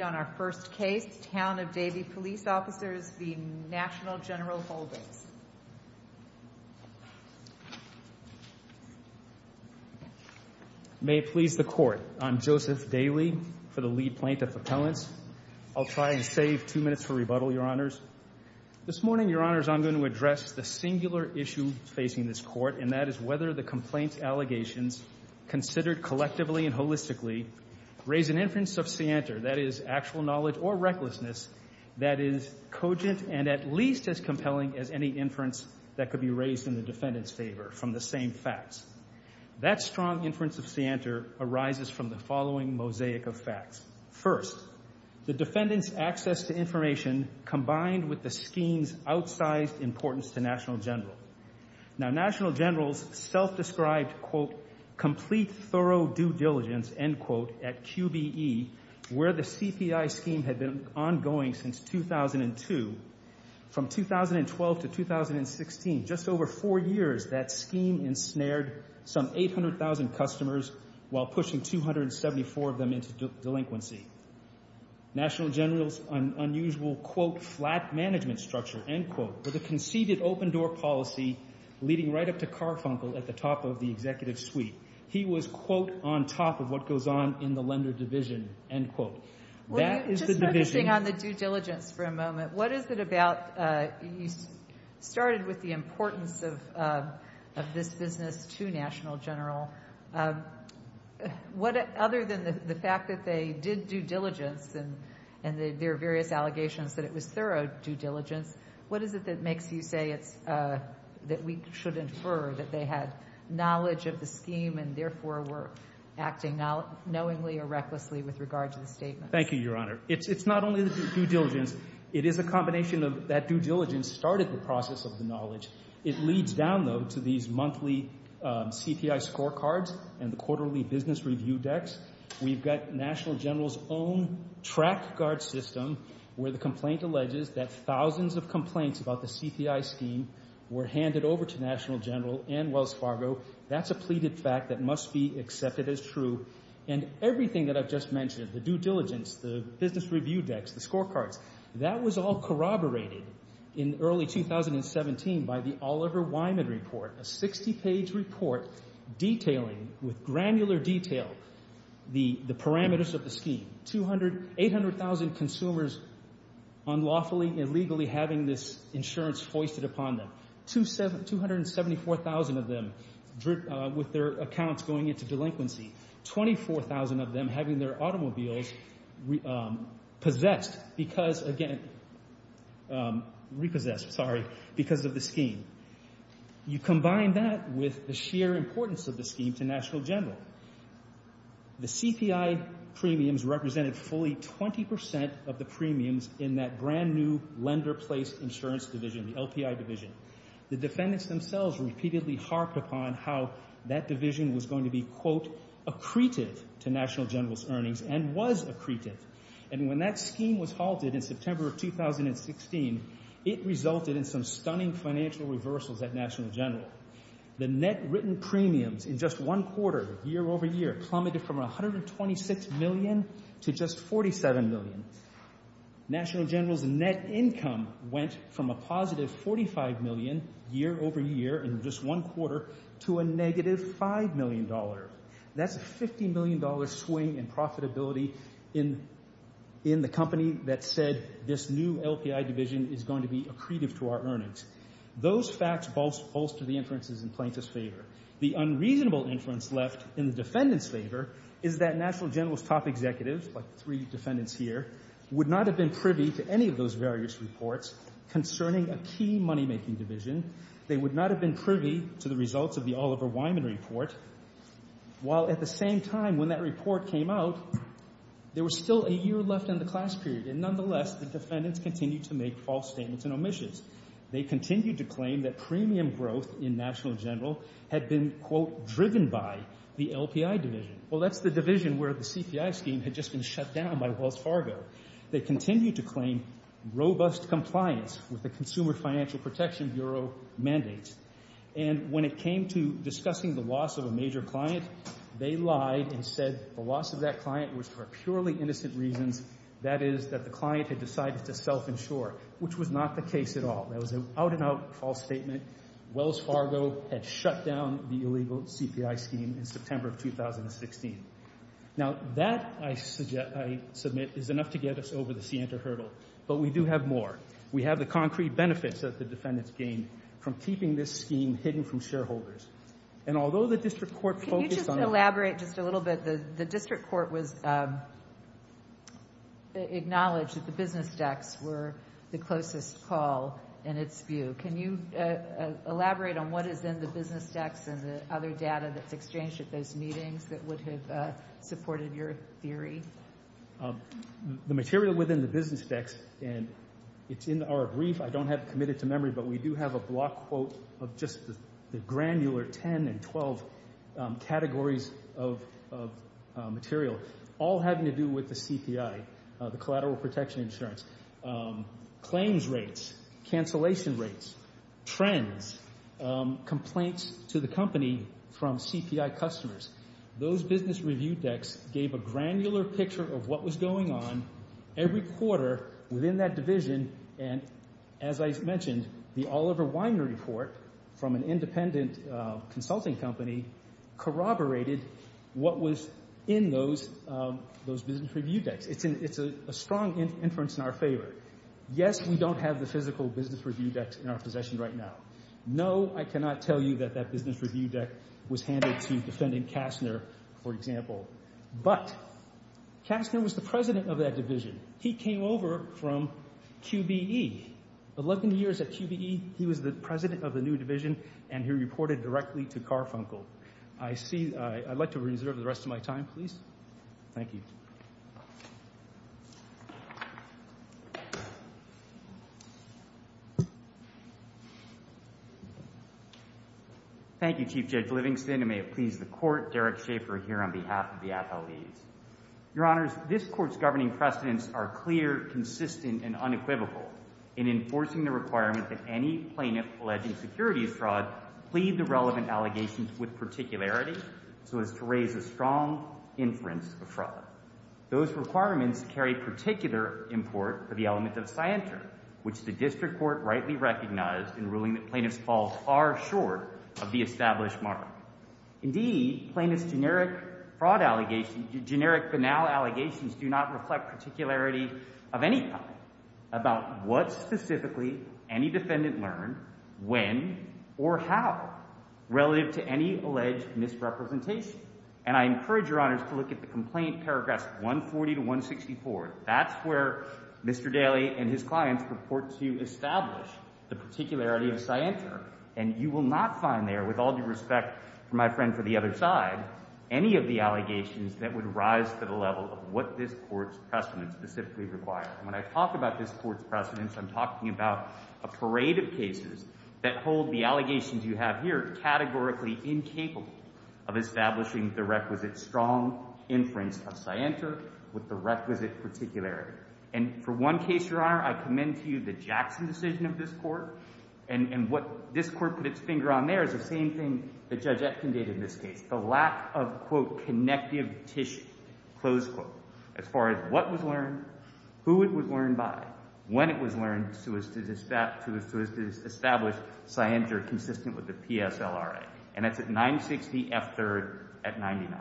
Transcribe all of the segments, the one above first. May it please the Court, I'm Joseph Daly for the Lead Plaintiff Appellants. I'll try and save two minutes for rebuttal, Your Honors. This morning, Your Honors, I'm going to address the singular issue facing this Court, and that is whether the complaint allegations, considered collectively and holistically, raise an inference of scienter, that is actual knowledge or recklessness, that is cogent and at least as compelling as any inference that could be raised in the defendant's favor from the same facts. That strong inference of scienter arises from the following mosaic of facts. First, the defendant's access to information combined with the scheme's outsized importance to National General. Now, National General's self-described, quote, complete thorough due diligence, end quote, at QBE, where the CPI scheme had been ongoing since 2002. From 2012 to 2016, just over four years, that scheme ensnared some 800,000 customers while pushing 274 of them into delinquency. National General's unusual, quote, flat management structure, end quote, with a conceded open-door policy leading right up to Carfunkel at the top of the executive suite. He was, quote, on top of what goes on in the lender division, end quote. That is the division. Well, just focusing on the due diligence for a moment, what is it about, you started with the importance of this business to National General. What, other than the fact that they did due diligence and there are various allegations that it was thorough due diligence, what is it that makes you say it's, that we should infer that they had knowledge of the scheme and therefore were acting knowingly or recklessly with regard to the statement? Thank you, Your Honor. It's not only the due diligence. It is a combination of that due diligence started the process of the knowledge. It leads down, though, to these monthly CPI scorecards and the quarterly business review decks. We've got National General's own track guard system where the complaint alleges that thousands of complaints about the CPI scheme were handed over to National General and Wells Fargo. That's a pleaded fact that must be accepted as true. And everything that I've just mentioned, the due diligence, the business review decks, the scorecards, that was all corroborated in early 2017 by the Oliver Wyman report, a 60-page report detailing with granular detail the parameters of the scheme. 800,000 consumers unlawfully, illegally having this insurance hoisted upon them. 274,000 of them with their accounts going into delinquency. 24,000 of them having their automobiles possessed because, again, repossessed, sorry, because of the scheme. You combine that with the sheer importance of the scheme to National General. The CPI premiums represented fully 20% of the premiums in that brand-new lender-placed insurance division, the LPI division. The defendants themselves repeatedly harped upon how that division was going to be, quote, accretive to National General's earnings and was accretive. And when that scheme was halted in September of 2016, it resulted in some stunning financial reversals at National General. The net written premiums in just one quarter year over year plummeted from $126 million to just $47 million. National General's net income went from a positive $45 million year over year in just one quarter to a negative $5 million. That's a $50 million swing in profitability in the company that said this new LPI division is going to be accretive to our earnings. Those facts bolster the inferences in plaintiff's favor. The unreasonable inference left in the defendant's favor is that National General's top executives, like the three defendants here, would not have been privy to any of those various reports concerning a key money-making division. They would not have been privy to the results of the Oliver Wyman report. While at the same time when that report came out, there was still a year left in the class period. And nonetheless, the defendants continued to make false statements and omissions. They continued to claim that premium growth in National General had been, quote, driven by the LPI division. Well, that's the division where the CPI scheme had just been shut down by Wells Fargo. They continued to claim robust compliance with the Consumer Financial Protection Bureau mandates. And when it came to discussing the loss of a major client, they lied and said the loss of that client was for purely innocent reasons. That is, that the client had decided to self-insure, which was not the case at all. That was an out-and-out false statement. Wells Fargo had shut down the illegal CPI scheme in September of 2016. Now, that, I submit, is enough to get us over the scienter hurdle. But we do have more. We have the concrete benefits that the defendants gained from keeping this scheme hidden from shareholders. And although the district court focused on... Can you just elaborate just a little bit? The district court acknowledged that the business dex were the closest call in its view. Can you elaborate on what is in the business dex and the other data that's exchanged at those meetings that would have supported your theory? The material within the business dex, and it's in our brief. I don't have it committed to memory, but we do have a block quote of just the granular 10 and 12 categories of material, all having to do with the CPI, the collateral protection insurance. Claims rates, cancellation rates, trends, complaints to the company from CPI customers. Those business review dex gave a granular picture of what was going on every quarter within that division. And as I mentioned, the Oliver Winer report from an independent consulting company corroborated what was in those business review dex. It's a strong inference in our favor. Yes, we don't have the physical business review dex in our possession right now. No, I cannot tell you that that business review dex was handed to defendant Kastner, for example. But Kastner was the president of that division. He came over from QBE. 11 years at QBE, he was the president of the new division, and he reported directly to Carfunkel. I'd like to reserve the rest of my time, please. Thank you. Thank you, Chief Judge Livingston, and may it please the Court. Derek Schaefer here on behalf of the FLDs. Your Honors, this Court's governing precedents are clear, consistent, and unequivocal in enforcing the requirement that any plaintiff alleging securities fraud plead the relevant allegations with particularity so as to raise a strong inference of fraud. Those requirements carry particular import for the element of scienter, which the district court rightly recognized in ruling that plaintiffs fall far short of the established mark. Indeed, plaintiffs' generic fraud allegations, generic banal allegations, do not reflect particularity of any kind about what specifically any defendant learned, when, or how, relative to any alleged misrepresentation. And I encourage Your Honors to look at the complaint paragraphs 140 to 164. That's where Mr. Daley and his clients report to establish the particularity of scienter. And you will not find there, with all due respect to my friend for the other side, any of the allegations that would rise to the level of what this Court's precedents specifically require. And when I talk about this Court's precedents, I'm talking about a parade of cases that hold the allegations you have here categorically incapable of establishing the requisite strong inference of scienter with the requisite particularity. And for one case, Your Honor, I commend to you the Jackson decision of this Court. And what this Court put its finger on there is the same thing that Judge Etkin did in this case, the lack of, quote, connective tissue, close quote, as far as what was learned, who it was learned by, when it was learned, so as to establish scienter consistent with the PSLRA. And that's at 960F3rd at 99.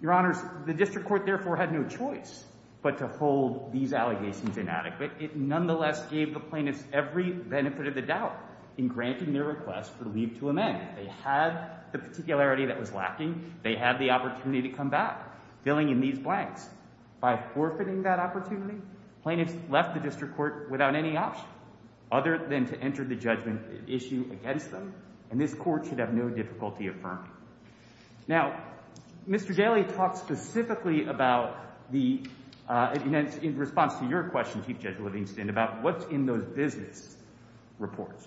Your Honors, the District Court therefore had no choice but to hold these allegations inadequate. It nonetheless gave the plaintiffs every benefit of the doubt in granting their request for leave to amend. They had the particularity that was lacking. They had the opportunity to come back, filling in these blanks. By forfeiting that opportunity, plaintiffs left the District Court without any option other than to enter the judgment issue against them. And this Court should have no difficulty affirming. Now, Mr. Daley talked specifically about the, in response to your question, Chief Judge Livingston, about what's in those business reports,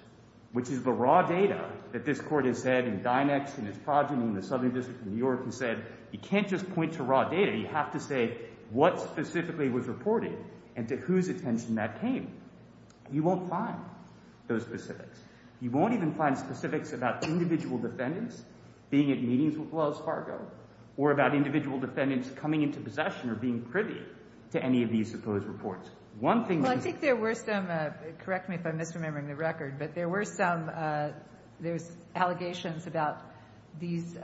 which is the raw data that this Court has said in Dynex and its progeny in the Southern District of New York has said, you can't just point to raw data. You have to say what specifically was reported and to whose attention that came. You won't find those specifics. You won't even find specifics about individual defendants being at meetings with Wells Fargo or about individual defendants coming into possession or being privy to any of these supposed reports. One thing that is— Well, I think there were some, correct me if I'm misremembering the record, but there were some, there was allegations about these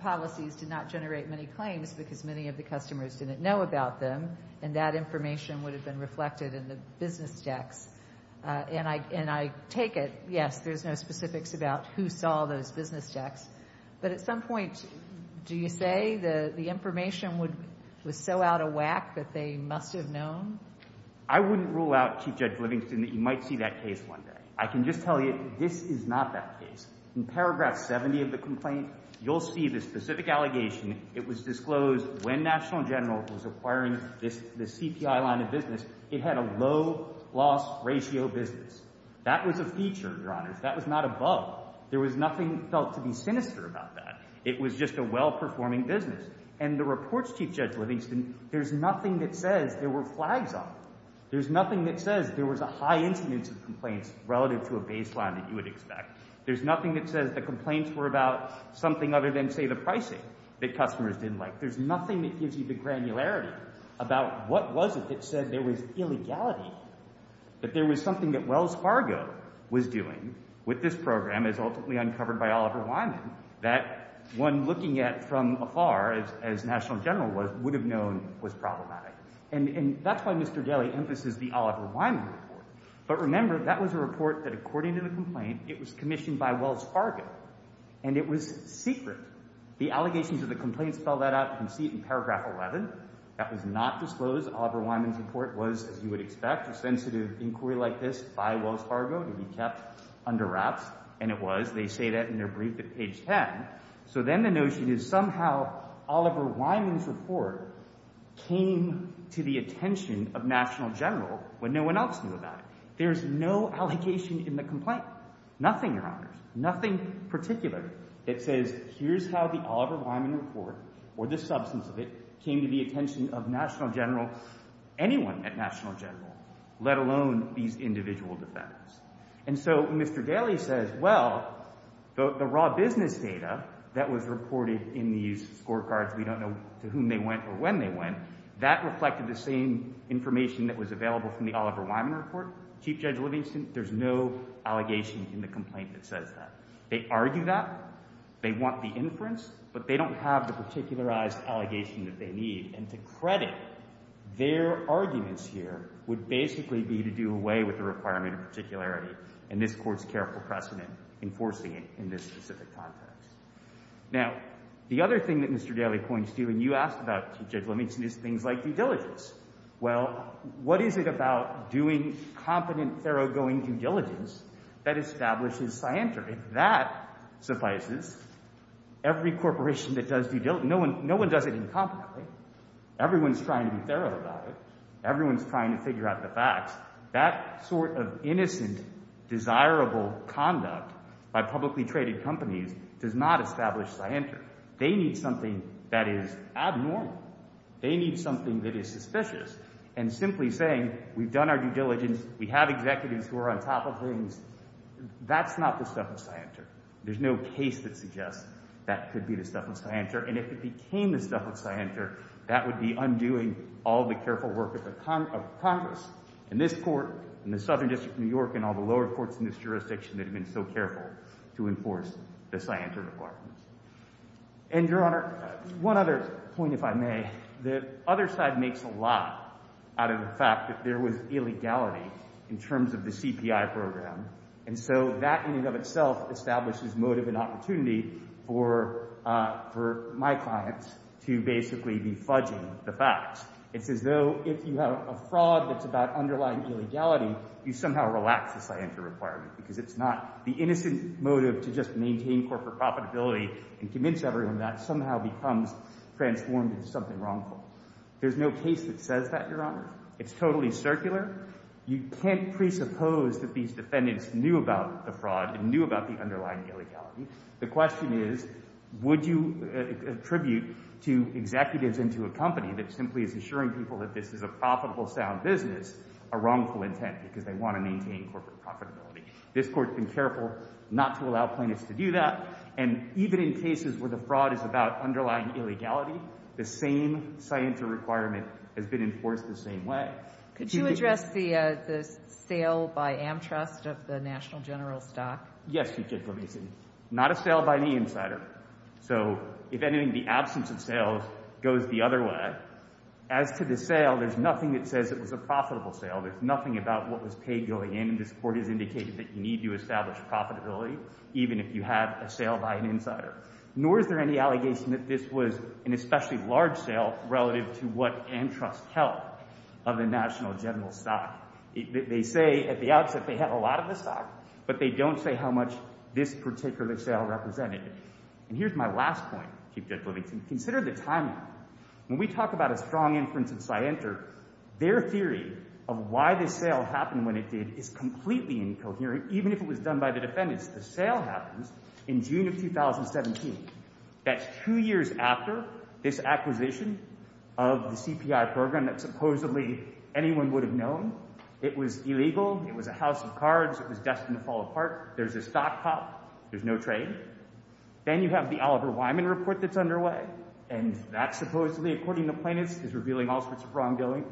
policies did not generate many claims because many of the customers didn't know about them, and that information would have been reflected in the business decks. And I take it, yes, there's no specifics about who saw those business decks. But at some point, do you say the information was so out of whack that they must have known? I wouldn't rule out, Chief Judge Livingston, that you might see that case one day. I can just tell you this is not that case. In paragraph 70 of the complaint, you'll see the specific allegation. It was disclosed when National General was acquiring the CPI line of business. It had a low loss ratio business. That was a feature, Your Honors. That was not above. There was nothing felt to be sinister about that. It was just a well-performing business. And the reports, Chief Judge Livingston, there's nothing that says there were flags on them. There's nothing that says there was a high incidence of complaints relative to a baseline that you would expect. There's nothing that says the complaints were about something other than, say, the pricing that customers didn't like. There's nothing that gives you the granularity about what was it that said there was illegality, that there was something that Wells Fargo was doing with this program, as ultimately uncovered by Oliver Wyman, that one looking at from afar, as National General would have known, was problematic. And that's why Mr. Daley emphasized the Oliver Wyman report. But remember, that was a report that, according to the complaint, it was commissioned by Wells Fargo, and it was secret. The allegations of the complaint spell that out. You can see it in paragraph 11. That was not disclosed. Oliver Wyman's report was, as you would expect, a sensitive inquiry like this by Wells Fargo to be kept under wraps. And it was. They say that in their brief at page 10. So then the notion is somehow Oliver Wyman's report came to the attention of National General when no one else knew about it. There's no allegation in the complaint, nothing, Your Honors, nothing particular. It says here's how the Oliver Wyman report or the substance of it came to the attention of National General, anyone at National General, let alone these individual defendants. And so Mr. Daley says, well, the raw business data that was reported in these scorecards, we don't know to whom they went or when they went, that reflected the same information that was available from the Oliver Wyman report. Chief Judge Livingston, there's no allegation in the complaint that says that. They argue that. They want the inference. But they don't have the particularized allegation that they need. And to credit, their arguments here would basically be to do away with the requirement of particularity, and this Court's careful precedent enforcing it in this specific context. Now, the other thing that Mr. Daley points to, and you asked about, Chief Judge Livingston, is things like due diligence. Well, what is it about doing competent, thoroughgoing due diligence that establishes scienter? If that suffices, every corporation that does due diligence, no one does it incompetently. Everyone's trying to be thorough about it. Everyone's trying to figure out the facts. That sort of innocent, desirable conduct by publicly traded companies does not establish scienter. They need something that is abnormal. They need something that is suspicious. And simply saying, we've done our due diligence, we have executives who are on top of things, that's not the stuff of scienter. There's no case that suggests that could be the stuff of scienter. And if it became the stuff of scienter, that would be undoing all the careful work of Congress and this Court and the Southern District of New York and all the lower courts in this jurisdiction that have been so careful to enforce the scienter requirements. And, Your Honor, one other point, if I may. The other side makes a lot out of the fact that there was illegality in terms of the CPI program. And so that in and of itself establishes motive and opportunity for my clients to basically be fudging the facts. It's as though if you have a fraud that's about underlying illegality, you somehow relax the scienter requirement. Because it's not the innocent motive to just maintain corporate profitability and convince everyone that somehow becomes transformed into something wrongful. There's no case that says that, Your Honor. It's totally circular. You can't presuppose that these defendants knew about the fraud and knew about the underlying illegality. The question is, would you attribute to executives and to a company that simply is assuring people that this is a profitable, sound business, a wrongful intent because they want to maintain corporate profitability? This Court's been careful not to allow plaintiffs to do that. And even in cases where the fraud is about underlying illegality, the same scienter requirement has been enforced the same way. Could you address the sale by Amtrust of the National General stock? Yes, Your Justice. Let me see. Not a sale by any insider. So if anything, the absence of sales goes the other way. As to the sale, there's nothing that says it was a profitable sale. There's nothing about what was paid going in. This Court has indicated that you need to establish profitability even if you have a sale by an insider. Nor is there any allegation that this was an especially large sale relative to what Amtrust held of the National General stock. They say at the outset they have a lot of the stock, but they don't say how much this particular sale represented. And here's my last point, Chief Judge Livingston. Consider the timing. When we talk about a strong inference of scienter, their theory of why this sale happened when it did is completely incoherent, even if it was done by the defendants. The sale happens in June of 2017. That's two years after this acquisition of the CPI program that supposedly anyone would have known. It was illegal. It was a house of cards. It was destined to fall apart. There's a stock cop. There's no trade. Then you have the Oliver Wyman report that's underway. And that supposedly, according to plaintiffs, is revealing all sorts of wrongdoing.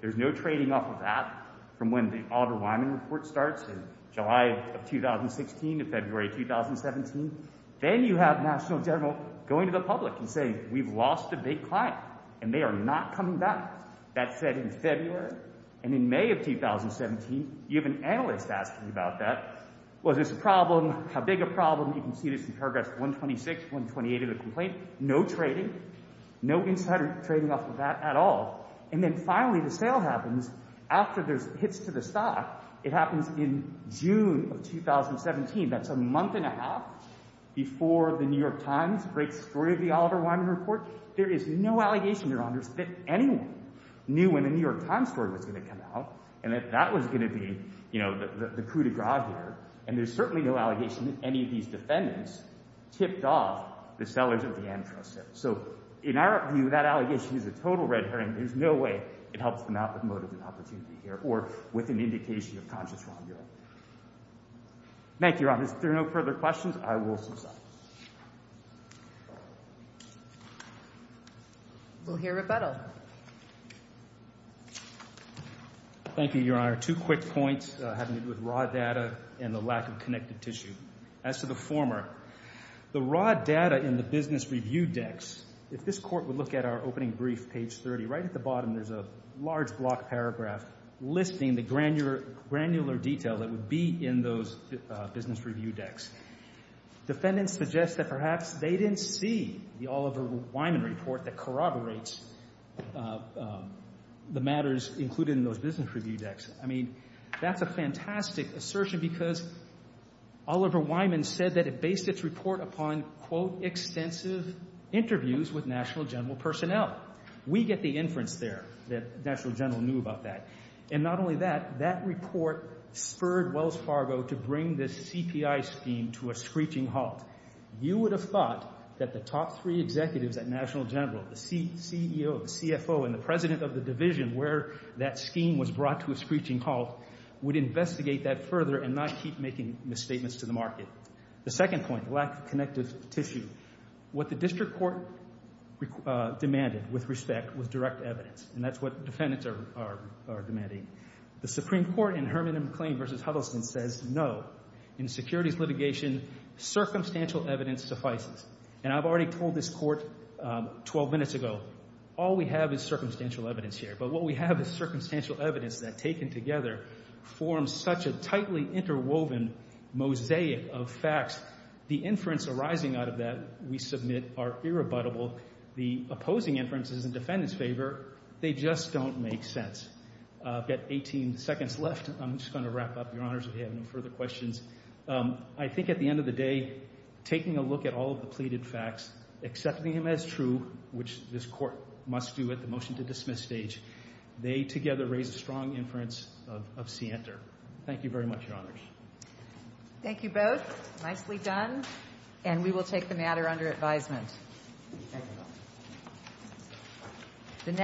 There's no trading off of that from when the Oliver Wyman report starts in July of 2016 to February 2017. Then you have National General going to the public and saying, we've lost a big client, and they are not coming back. That's set in February. And in May of 2017, you have an analyst asking about that. Was this a problem? How big a problem? You can see this in paragraphs 126, 128 of the complaint. No trading. No insider trading off of that at all. And then finally, the sale happens after there's hits to the stock. It happens in June of 2017. That's a month and a half before the New York Times breaks free of the Oliver Wyman report. There is no allegation, Your Honors, that anyone knew when the New York Times story was going to come out and that that was going to be, you know, the coup de grace here. And there's certainly no allegation that any of these defendants tipped off the land trust here. So in our view, that allegation is a total red herring. There's no way it helps them out with motive and opportunity here or with an indication of conscious wrongdoing. Thank you, Your Honors. If there are no further questions, I will succumb. We'll hear rebuttal. Thank you, Your Honor. Two quick points having to do with raw data and the lack of connected tissue. As to the former, the raw data in the business review decks, if this Court would look at our opening brief, page 30, right at the bottom there's a large block paragraph listing the granular detail that would be in those business review decks. Defendants suggest that perhaps they didn't see the Oliver Wyman report that corroborates the matters included in those business review decks. I mean, that's a fantastic assertion because Oliver Wyman said that it based its report upon, quote, extensive interviews with National General personnel. We get the inference there that National General knew about that. And not only that, that report spurred Wells Fargo to bring this CPI scheme to a screeching halt. You would have thought that the top three executives at National General, the screeching halt, would investigate that further and not keep making misstatements to the market. The second point, lack of connected tissue. What the district court demanded, with respect, was direct evidence. And that's what defendants are demanding. The Supreme Court in Herman and McLean v. Huddleston says no. In securities litigation, circumstantial evidence suffices. And I've already told this Court 12 minutes ago, all we have is circumstantial evidence here. But what we have is circumstantial evidence that, taken together, forms such a tightly interwoven mosaic of facts. The inference arising out of that, we submit, are irrebuttable. The opposing inference is in defendants' favor. They just don't make sense. I've got 18 seconds left. I'm just going to wrap up, Your Honors, if you have no further questions. I think at the end of the day, taking a look at all of the pleaded facts, accepting them as true, which this Court must do at the motion to dismiss stage, they together raise a strong inference of scienter. Thank you very much, Your Honors. Thank you both. Nicely done. And we will take the matter under advisement.